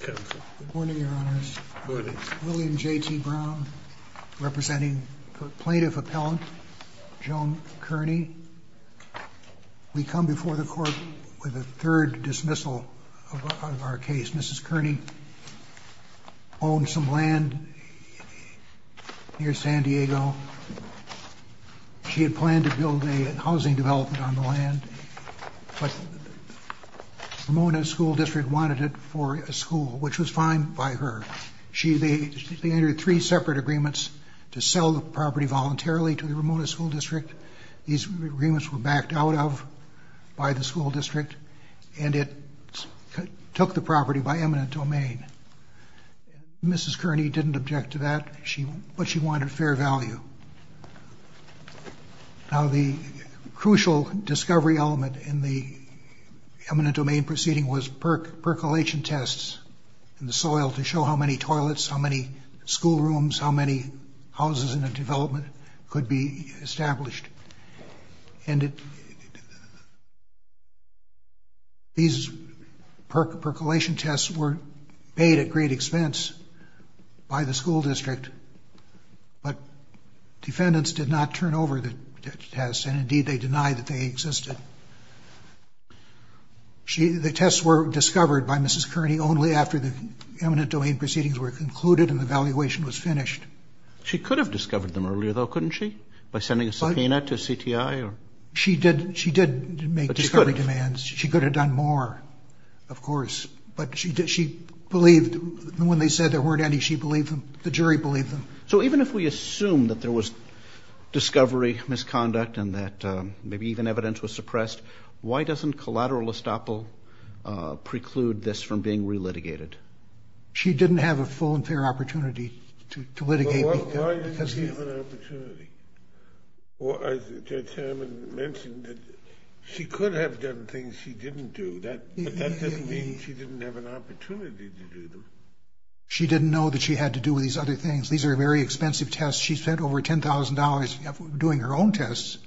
Good morning, Your Honors. William J.T. Brown, representing plaintiff appellant Joan Kearney. We come before the Court with a third dismissal of our case. Mrs. Kearney owned some land near San Diego. She had planned to build a housing development on the land, but the Ramona School District wanted it for a school, which was fine by her. They entered three separate agreements to sell the property voluntarily to the Ramona School District. These agreements were backed out of by the school district, and it took the property by eminent domain. Mrs. Kearney didn't object to that, but she wanted fair value. Now, the crucial discovery element in the eminent domain proceeding was percolation tests in the soil to show how many toilets, how many school rooms, how many houses in the development could be established. These percolation tests were paid at great expense by the school district, but defendants did not turn over the tests, and indeed they denied that they existed. The tests were discovered by Mrs. Kearney only after the eminent domain proceedings were concluded and the valuation was finished. She could have discovered them earlier, though, couldn't she, by sending a subpoena to CTI? She did make discovery demands. She could have done more, of course. When they said there weren't any, the jury believed them. So even if we assume that there was discovery misconduct and that maybe even evidence was suppressed, why doesn't collateral estoppel preclude this from being relitigated? She didn't have a full and fair opportunity to litigate. Well, why didn't she have an opportunity? Well, as Chairman mentioned, she could have done things she didn't do, but that doesn't mean she didn't have an opportunity to do them. She didn't know that she had to do these other things. These are very expensive tests. She spent over $10,000 doing her own tests.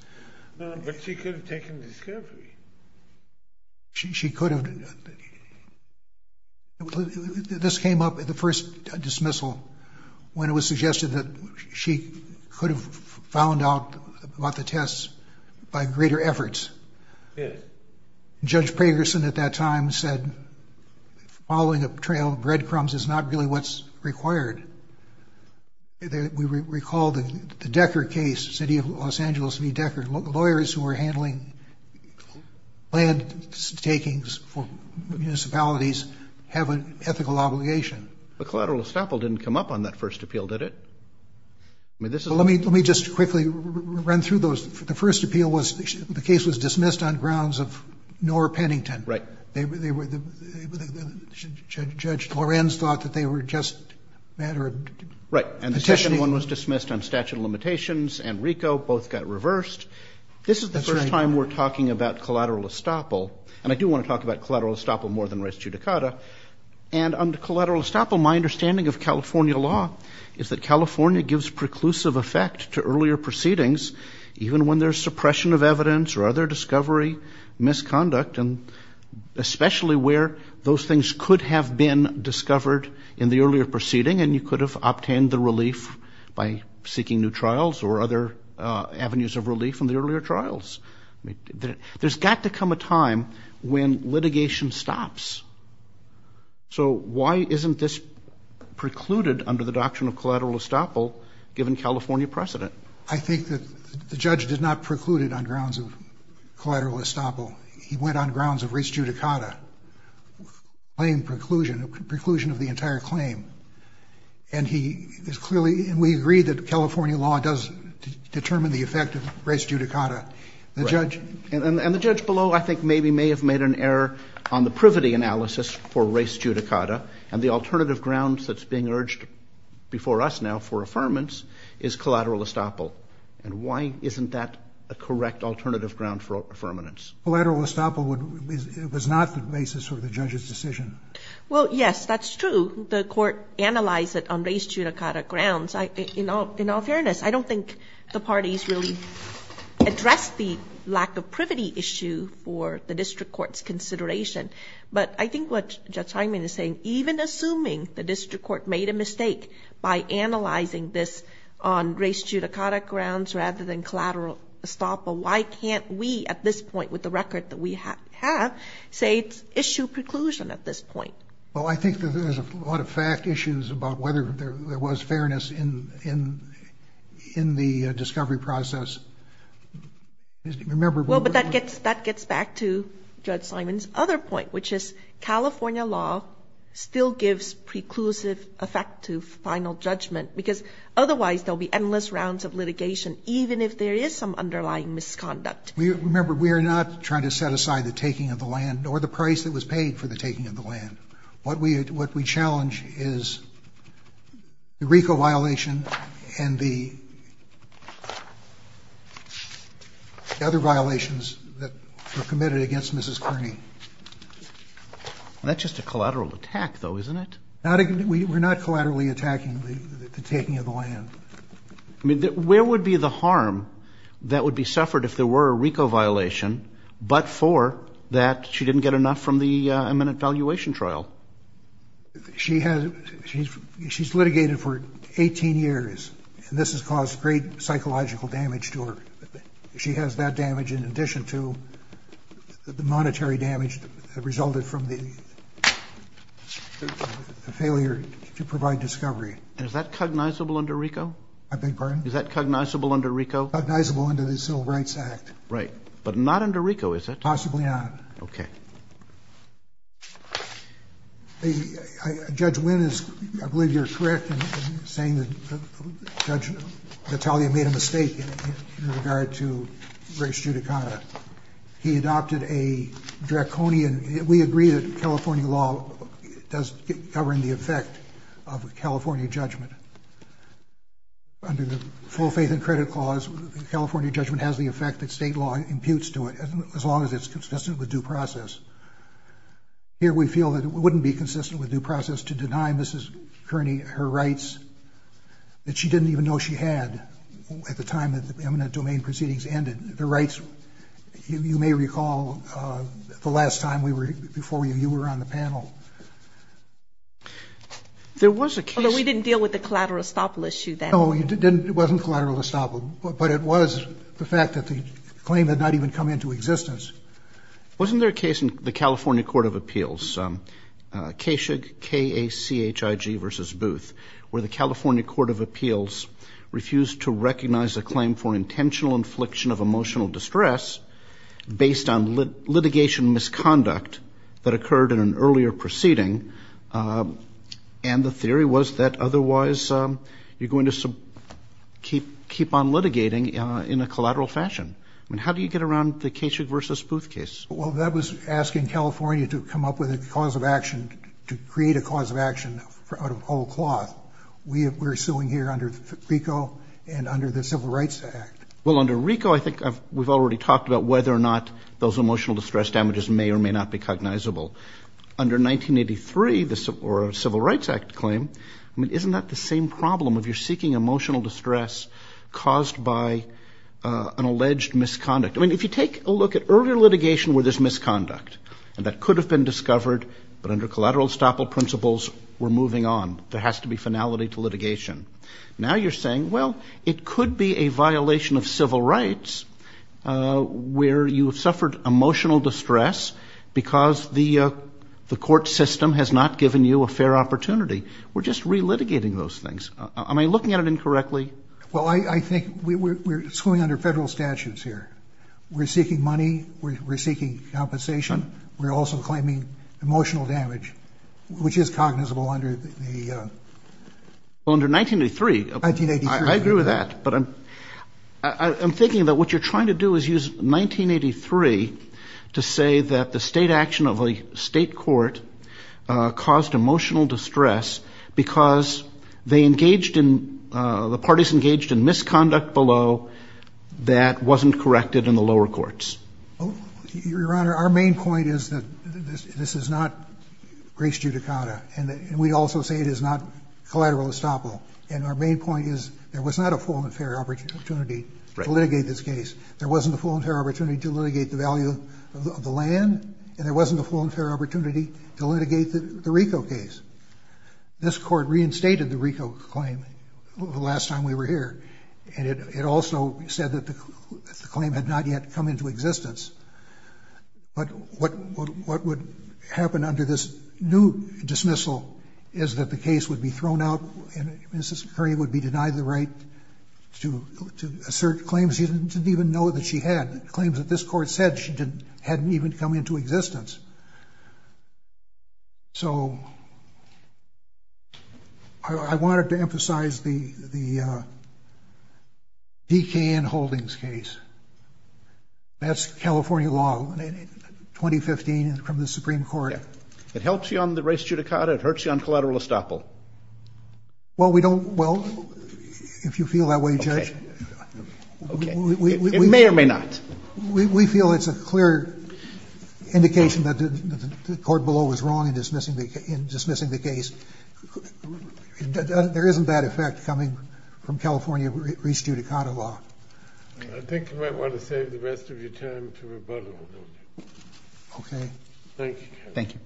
No, but she could have taken discovery. She could have. This came up at the first dismissal, when it was suggested that she could have found out about the tests by greater efforts. Judge Pagerson at that time said, following a trail of breadcrumbs is not really what's required. We recall the Decker case, City of Los Angeles v. Decker. Lawyers who were handling land takings for municipalities have an ethical obligation. But collateral estoppel didn't come up on that first appeal, did it? Let me just quickly run through those. The first appeal was the case was dismissed on grounds of Knorr-Pennington. Right. Judge Lorenz thought that they were just a matter of petitioning. Right. And the second one was dismissed on statute of limitations. And RICO both got reversed. This is the first time we're talking about collateral estoppel. And I do want to talk about collateral estoppel more than res judicata. And under collateral estoppel, my understanding of California law is that California gives preclusive effect to earlier proceedings, even when there's suppression of evidence or other discovery, misconduct, and especially where those things could have been discovered in the earlier proceeding and you could have obtained the relief by seeking new trials or other avenues of relief in the earlier trials. There's got to come a time when litigation stops. So why isn't this precluded under the doctrine of collateral estoppel given California precedent? I think that the judge did not preclude it on grounds of collateral estoppel. He went on grounds of res judicata, plain preclusion, preclusion of the entire claim. And he is clearly, and we agree that California law does determine the effect of res judicata. And the judge below I think maybe may have made an error on the privity analysis for res judicata. And the alternative grounds that's being urged before us now for affirmance is collateral estoppel. And why isn't that a correct alternative ground for affirmance? Collateral estoppel was not the basis for the judge's decision. Well, yes, that's true. The court analyzed it on res judicata grounds. In all fairness, I don't think the parties really addressed the lack of privity issue for the district court's consideration. But I think what Judge Hyman is saying, even assuming the district court made a mistake by analyzing this on res judicata grounds rather than collateral estoppel, why can't we at this point with the record that we have say it's issue preclusion at this point? Well, I think that there's a lot of fact issues about whether there was fairness in the discovery process. Well, but that gets back to Judge Hyman's other point, which is California law still gives preclusive effect to final judgment because otherwise there will be endless rounds of litigation even if there is some underlying misconduct. Remember, we are not trying to set aside the taking of the land or the price that was paid for the taking of the land. What we challenge is the RICO violation and the other violations that were committed against Mrs. Kearney. That's just a collateral attack, though, isn't it? We're not collaterally attacking the taking of the land. I mean, where would be the harm that would be suffered if there were a RICO violation but for that she didn't get enough from the eminent valuation trial? She's litigated for 18 years, and this has caused great psychological damage to her. She has that damage in addition to the monetary damage that resulted from the failure to provide discovery. Is that cognizable under RICO? I beg your pardon? Is that cognizable under RICO? Cognizable under the Civil Rights Act. Right. But not under RICO, is it? Possibly not. Okay. Judge Wynn, I believe you're correct in saying that Judge Natalia made a mistake in regard to race judicata. He adopted a draconian—we agree that California law doesn't cover the effect of a California judgment. Under the Full Faith and Credit Clause, the California judgment has the effect that state law imputes to it as long as it's consistent with due process. Here we feel that it wouldn't be consistent with due process to deny Mrs. Kearney her rights that she didn't even know she had at the time that the eminent domain proceedings ended. The rights, you may recall, the last time before you were on the panel. There was a case— Although we didn't deal with the collateral estoppel issue then. No, you didn't. It wasn't collateral estoppel. But it was the fact that the claim had not even come into existence. Wasn't there a case in the California Court of Appeals, KASHIG, K-A-C-H-I-G versus Booth, where the California Court of Appeals refused to recognize a claim for intentional infliction of emotional distress based on litigation misconduct that occurred in an earlier proceeding, and the theory was that otherwise you're going to keep on litigating in a collateral fashion. I mean, how do you get around the KASHIG versus Booth case? Well, that was asking California to come up with a cause of action, to create a cause of action out of whole cloth. We're suing here under RICO and under the Civil Rights Act. Well, under RICO, I think we've already talked about whether or not those emotional distress damages may or may not be cognizable. Under 1983, the Civil Rights Act claim, I mean, isn't that the same problem? If you're seeking emotional distress caused by an alleged misconduct. I mean, if you take a look at earlier litigation where there's misconduct, and that could have been discovered, but under collateral estoppel principles, we're moving on. There has to be finality to litigation. Now you're saying, well, it could be a violation of civil rights where you have suffered emotional distress because the court system has not given you a fair opportunity. We're just relitigating those things. I mean, looking at it incorrectly. Well, I think we're suing under federal statutes here. We're seeking money. We're seeking compensation. We're also claiming emotional damage, which is cognizable under the. Under 1983. 1983. I agree with that. But I'm thinking that what you're trying to do is use 1983 to say that the state action of a state court caused emotional distress because they engaged in, the parties engaged in misconduct below that wasn't corrected in the lower courts. Your Honor, our main point is that this is not grace judicata. And we also say it is not collateral estoppel. And our main point is there was not a full and fair opportunity to litigate this case. There wasn't a full and fair opportunity to litigate the value of the land, and there wasn't a full and fair opportunity to litigate the RICO case. This court reinstated the RICO claim the last time we were here. And it also said that the claim had not yet come into existence. But what would happen under this new dismissal is that the case would be thrown out and Mrs. Curry would be denied the right to assert claims she didn't even know that she had, claims that this court said she hadn't even come into existence. So I wanted to emphasize the D.K.N. Holdings case. That's California law, 2015 from the Supreme Court. It helps you on the grace judicata? It hurts you on collateral estoppel? Well, we don't, well, if you feel that way, Judge. Okay. It may or may not. We feel it's a clear indication that the court below was wrong in dismissing the case. There isn't that effect coming from California restudicata law. I think you might want to save the rest of your time to rebuttal. Okay. Thank you, Judge. Thank you. Thank you.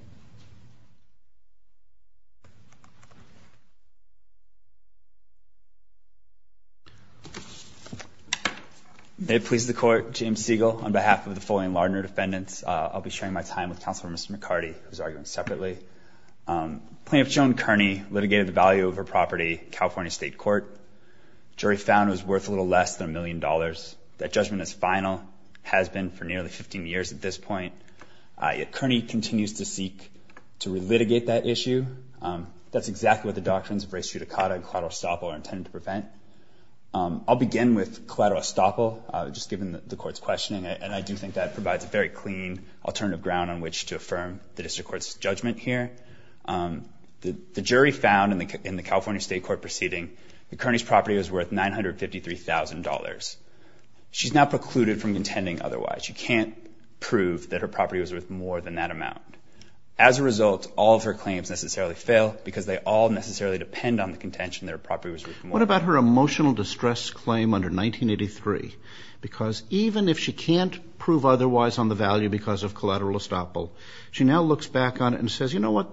May it please the Court, James Siegel, on behalf of the Foley and Lardner defendants, I'll be sharing my time with Counselor Mr. McCarty, who's arguing separately. Plaintiff Joan Kearney litigated the value of her property in California State Court. The jury found it was worth a little less than a million dollars. That judgment is final, has been for nearly 15 years at this point. Yet Kearney continues to seek to relitigate that issue. That's exactly what the doctrines of restudicata and collateral estoppel are intended to prevent. I'll begin with collateral estoppel, just given the Court's questioning, and I do think that provides a very clean alternative ground on which to affirm the District Court's judgment here. The jury found in the California State Court proceeding that Kearney's property was worth $953,000. She's now precluded from contending otherwise. She can't prove that her property was worth more than that amount. As a result, all of her claims necessarily fail because they all necessarily depend on the contention that her property was worth more. What about her emotional distress claim under 1983? Because even if she can't prove otherwise on the value because of collateral estoppel, she now looks back on it and says, you know what,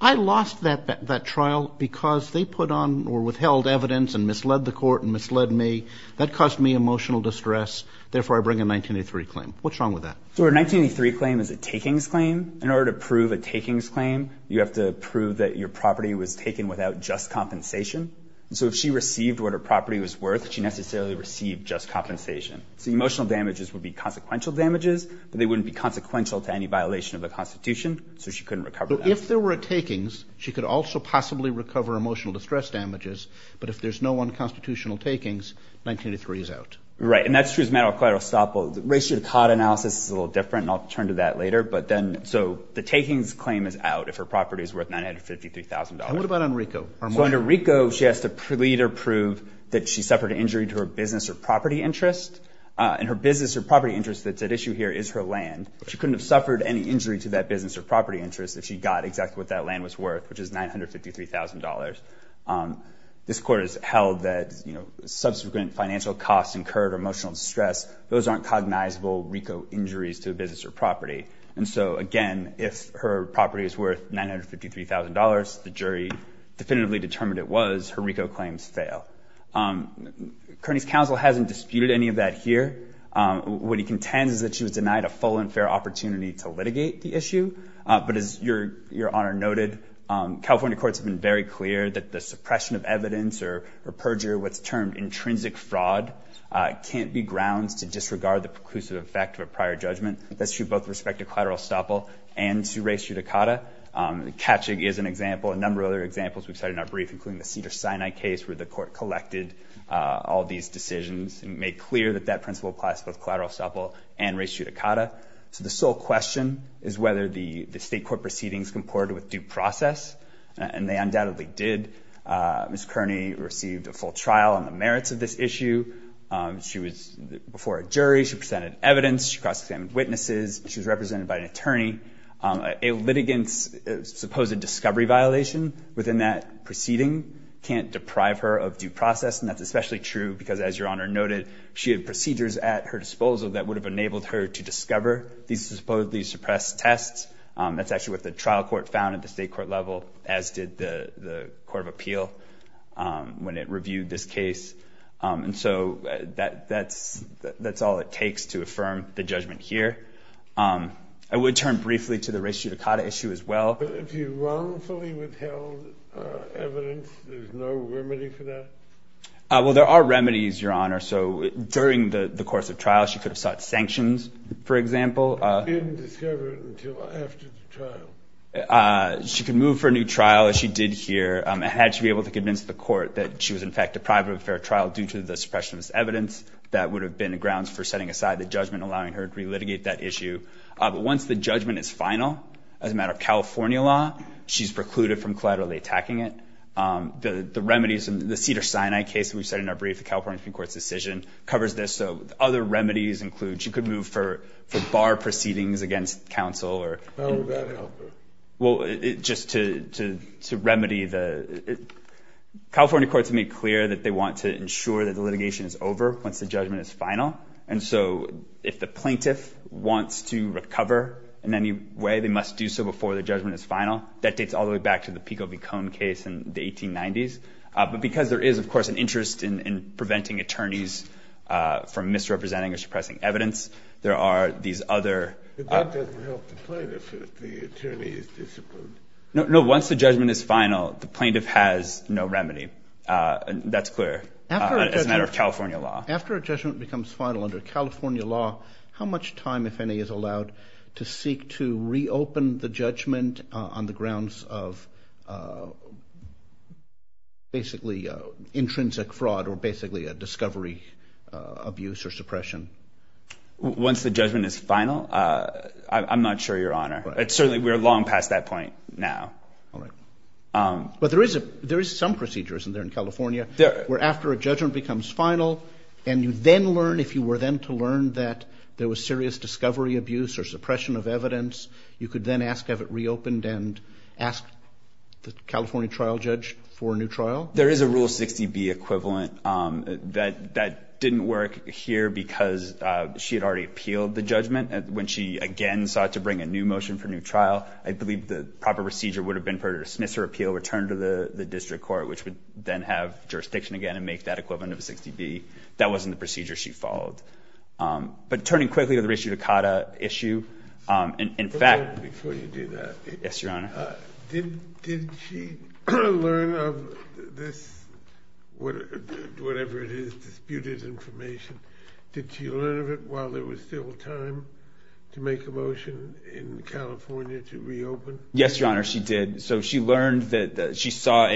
I lost that trial because they put on or withheld evidence and misled the Court and misled me. That caused me emotional distress. Therefore, I bring a 1983 claim. What's wrong with that? So her 1983 claim is a takings claim. In order to prove a takings claim, you have to prove that your property was taken without just compensation. So if she received what her property was worth, she necessarily received just compensation. So emotional damages would be consequential damages, but they wouldn't be consequential to any violation of the Constitution, so she couldn't recover that. So if there were takings, she could also possibly recover emotional distress damages, but if there's no unconstitutional takings, 1983 is out. Right, and that's true as a matter of collateral estoppel. The ratio to Codd analysis is a little different, and I'll turn to that later. But then so the takings claim is out if her property is worth $953,000. And what about on RICO? So under RICO, she has to either prove that she suffered an injury to her business or property interest, and her business or property interest that's at issue here is her land. She couldn't have suffered any injury to that business or property interest if she got exactly what that land was worth, which is $953,000. This court has held that, you know, subsequent financial costs incurred or emotional distress, those aren't cognizable RICO injuries to a business or property. And so, again, if her property is worth $953,000, the jury definitively determined it was, her RICO claims fail. Kearney's counsel hasn't disputed any of that here. What he contends is that she was denied a full and fair opportunity to litigate the issue. But as Your Honor noted, California courts have been very clear that the suppression of evidence or perjure, what's termed intrinsic fraud, can't be grounds to disregard the preclusive effect of a prior judgment. That's true both with respect to collateral estoppel and to res judicata. Katschig is an example, a number of other examples we've cited in our brief, including the Cedars-Sinai case where the court collected all these decisions and made clear that that principle applies to both collateral estoppel and res judicata. So the sole question is whether the state court proceedings comported with due process. And they undoubtedly did. Ms. Kearney received a full trial on the merits of this issue. She was before a jury. She presented evidence. She cross-examined witnesses. She was represented by an attorney. A litigant's supposed discovery violation within that proceeding can't deprive her of due process. And that's especially true because, as Your Honor noted, she had procedures at her disposal that would have enabled her to discover these supposedly suppressed tests. That's actually what the trial court found at the state court level, as did the court of appeal when it reviewed this case. And so that's all it takes to affirm the judgment here. I would turn briefly to the res judicata issue as well. But if you wrongfully withheld evidence, there's no remedy for that? Well, there are remedies, Your Honor. So during the course of trial, she could have sought sanctions, for example. She didn't discover it until after the trial? She could move for a new trial, as she did here. It had to be able to convince the court that she was, in fact, deprived of a fair trial due to the suppression of this evidence. That would have been grounds for setting aside the judgment, allowing her to relitigate that issue. But once the judgment is final, as a matter of California law, she's precluded from collaterally attacking it. The remedies in the Cedars-Sinai case that we've said in our brief, the California Supreme Court's decision, covers this. So other remedies include she could move for bar proceedings against counsel. How would that help her? Well, just to remedy the— California courts have made clear that they want to ensure that the litigation is over once the judgment is final. And so if the plaintiff wants to recover in any way, they must do so before the judgment is final. That dates all the way back to the Pico v. Cohn case in the 1890s. But because there is, of course, an interest in preventing attorneys from misrepresenting or suppressing evidence, there are these other— But that doesn't help the plaintiff if the attorney is disciplined. No, once the judgment is final, the plaintiff has no remedy. That's clear as a matter of California law. After a judgment becomes final under California law, how much time, if any, is allowed to seek to reopen the judgment on the grounds of basically intrinsic fraud or basically a discovery abuse or suppression? Once the judgment is final? I'm not sure, Your Honor. It's certainly—we're long past that point now. All right. But there is some procedure, isn't there, in California where after a judgment becomes final, and you then learn, if you were then to learn that there was serious discovery abuse or suppression of evidence, you could then ask to have it reopened and ask the California trial judge for a new trial? There is a Rule 60B equivalent. That didn't work here because she had already appealed the judgment. When she, again, sought to bring a new motion for a new trial, I believe the proper procedure would have been for her to dismiss her appeal, return to the district court, which would then have jurisdiction again and make that equivalent of a 60B. That wasn't the procedure she followed. But turning quickly to the Rishi Dukata issue, in fact— Before you do that— Yes, Your Honor. Did she learn of this—whatever it is, disputed information— did she learn of it while there was still time to make a motion in California to reopen? Yes, Your Honor, she did. So she learned that—she saw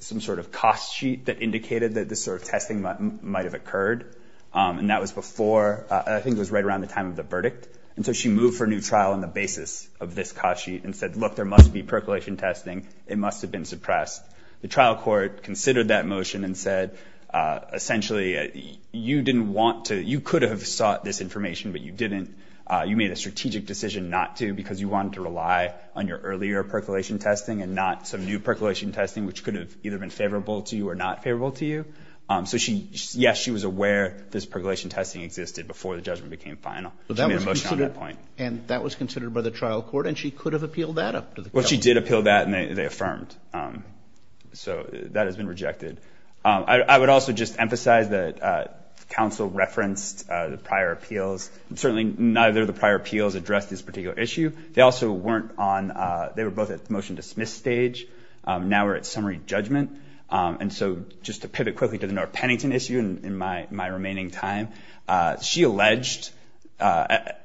some sort of cost sheet that indicated that this sort of testing might have occurred, and that was before—I think it was right around the time of the verdict. And so she moved for a new trial on the basis of this cost sheet and said, look, there must be percolation testing. It must have been suppressed. The trial court considered that motion and said, essentially, you didn't want to—you could have sought this information, but you didn't—you made a strategic decision not to because you wanted to rely on your earlier percolation testing and not some new percolation testing, which could have either been favorable to you or not favorable to you. So, yes, she was aware this percolation testing existed before the judgment became final. She made a motion on that point. And that was considered by the trial court, and she could have appealed that up to the counsel? Well, she did appeal that, and they affirmed. So that has been rejected. I would also just emphasize that counsel referenced the prior appeals. Certainly neither of the prior appeals addressed this particular issue. They also weren't on—they were both at the motion-dismiss stage. Now we're at summary judgment. And so just to pivot quickly to the North Pennington issue in my remaining time, she alleged that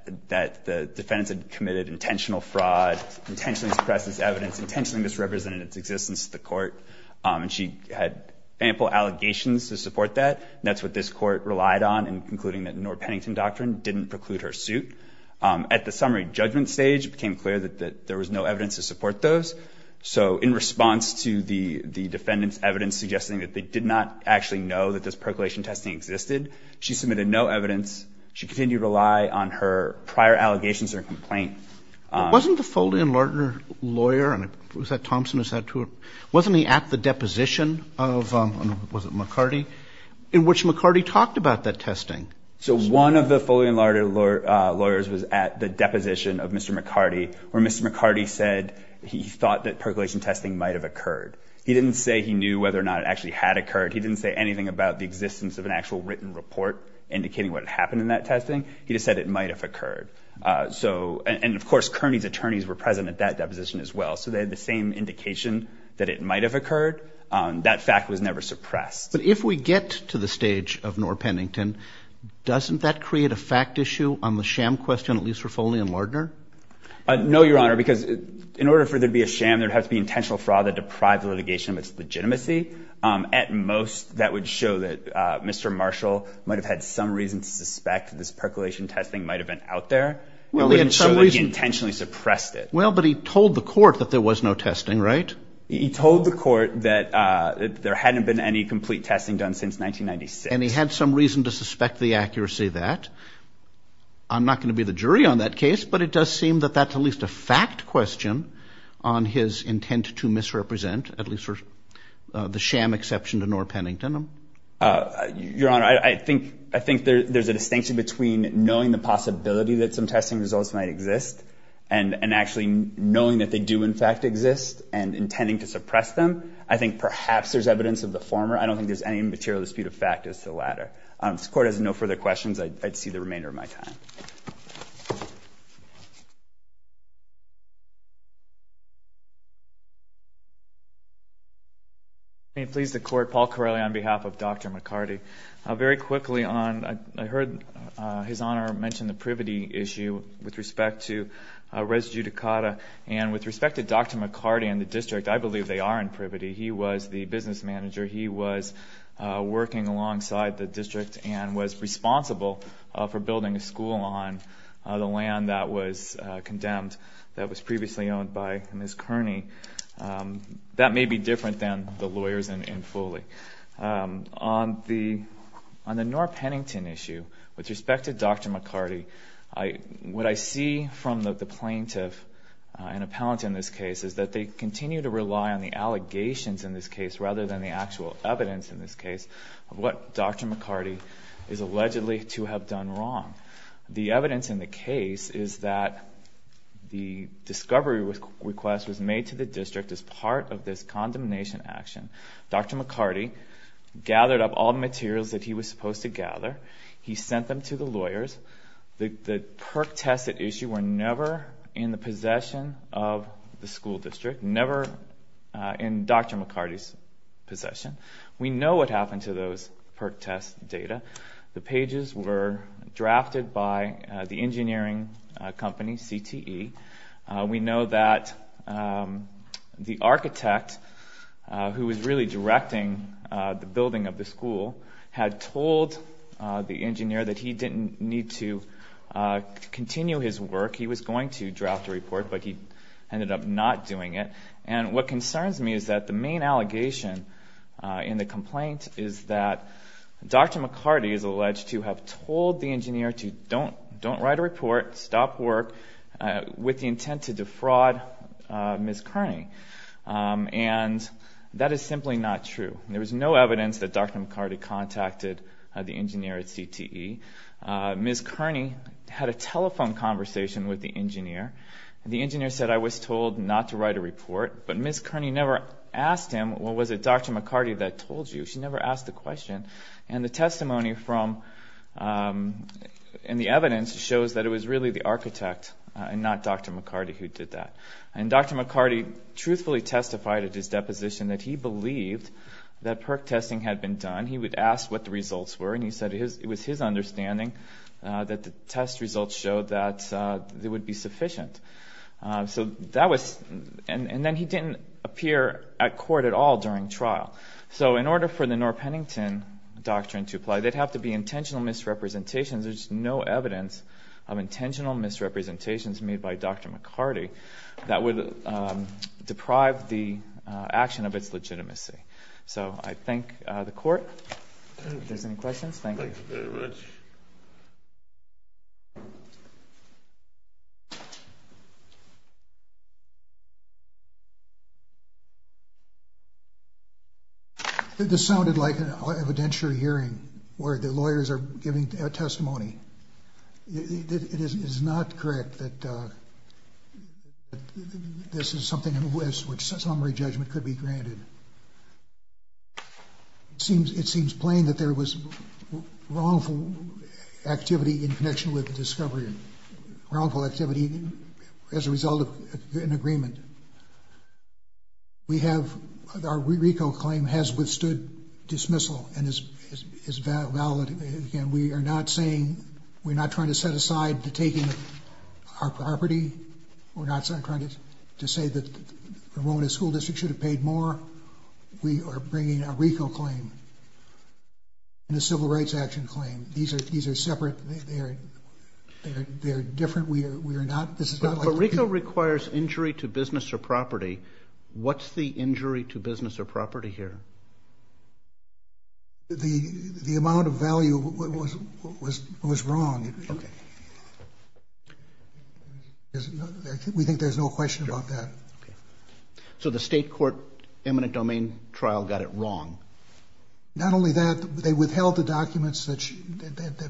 the defendants had committed intentional fraud, intentionally suppressed this evidence, intentionally misrepresented its existence to the court, and she had ample allegations to support that. And that's what this court relied on in concluding that the North Pennington Doctrine didn't preclude her suit. At the summary judgment stage, it became clear that there was no evidence to support those. So in response to the defendants' evidence suggesting that they did not actually know that this percolation testing existed, she submitted no evidence. She continued to rely on her prior allegations or complaint. Wasn't the Foley and Lardner lawyer—was that Thompson? Wasn't he at the deposition of—was it McCarty? In which McCarty talked about that testing. So one of the Foley and Lardner lawyers was at the deposition of Mr. McCarty, where Mr. McCarty said he thought that percolation testing might have occurred. He didn't say he knew whether or not it actually had occurred. He didn't say anything about the existence of an actual written report indicating what had happened in that testing. He just said it might have occurred. And, of course, Kearney's attorneys were present at that deposition as well, so they had the same indication that it might have occurred. That fact was never suppressed. But if we get to the stage of North Pennington, doesn't that create a fact issue on the sham question, at least for Foley and Lardner? No, Your Honor, because in order for there to be a sham, there would have to be intentional fraud that deprived the litigation of its legitimacy. At most, that would show that Mr. Marshall might have had some reason to suspect this percolation testing might have been out there. It wouldn't show that he intentionally suppressed it. Well, but he told the court that there was no testing, right? He told the court that there hadn't been any complete testing done since 1996. I'm not going to be the jury on that case, but it does seem that that's at least a fact question on his intent to misrepresent, at least for the sham exception to North Pennington. Your Honor, I think there's a distinction between knowing the possibility that some testing results might exist and actually knowing that they do in fact exist and intending to suppress them. I think perhaps there's evidence of the former. I don't think there's any material dispute of fact as to the latter. If this Court has no further questions, I'd see the remainder of my time. May it please the Court, Paul Corelli on behalf of Dr. McCarty. Very quickly, I heard His Honor mention the privity issue with respect to res judicata, and with respect to Dr. McCarty and the district, I believe they are in privity. He was the business manager. He was working alongside the district and was responsible for building a school on the land that was condemned that was previously owned by Ms. Kearney. That may be different than the lawyers in Foley. On the North Pennington issue, with respect to Dr. McCarty, what I see from the plaintiff and appellant in this case is that they continue to rely on the allegations in this case rather than the actual evidence in this case of what Dr. McCarty is allegedly to have done wrong. The evidence in the case is that the discovery request was made to the district as part of this condemnation action. Dr. McCarty gathered up all the materials that he was supposed to gather. He sent them to the lawyers. The PERC tests at issue were never in the possession of the school district, never in Dr. McCarty's possession. We know what happened to those PERC test data. The pages were drafted by the engineering company, CTE. We know that the architect who was really directing the building of the school had told the engineer that he didn't need to continue his work. He was going to draft a report, but he ended up not doing it. And what concerns me is that the main allegation in the complaint is that Dr. McCarty is alleged to have told the engineer to don't write a report, stop work, with the intent to defraud Ms. Kearney. And that is simply not true. There was no evidence that Dr. McCarty contacted the engineer at CTE. Ms. Kearney had a telephone conversation with the engineer. The engineer said, I was told not to write a report. But Ms. Kearney never asked him, well, was it Dr. McCarty that told you? She never asked the question. And the testimony from the evidence shows that it was really the architect and not Dr. McCarty who did that. And Dr. McCarty truthfully testified at his deposition that he believed that PERC testing had been done. He would ask what the results were, and he said it was his understanding that the test results showed that it would be sufficient. And then he didn't appear at court at all during trial. So in order for the Norr-Pennington doctrine to apply, there would have to be intentional misrepresentations. There's no evidence of intentional misrepresentations made by Dr. McCarty that would deprive the action of its legitimacy. So I thank the court. If there's any questions, thank you. Thank you very much. This sounded like an evidentiary hearing where the lawyers are giving testimony. It is not correct that this is something in which summary judgment could be granted. It seems plain that there was wrongful activity in connection with discovery, wrongful activity as a result of an agreement. Our RICO claim has withstood dismissal and is valid. Again, we are not saying, we're not trying to set aside to taking our property. We're not trying to say that the Romona School District should have paid more. We are bringing a RICO claim and a civil rights action claim. These are separate. They are different. We are not. This is not like. But RICO requires injury to business or property. What's the injury to business or property here? The amount of value was wrong. We think there's no question about that. So the state court eminent domain trial got it wrong. Not only that, they withheld the documents that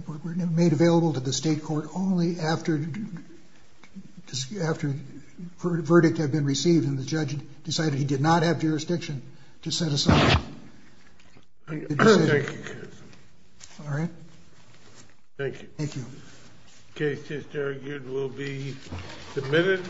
were made available to the state court only after the verdict had been received. And the judge decided he did not have jurisdiction to set aside. Thank you, counsel. All right. Thank you. Thank you. Case just argued will be submitted.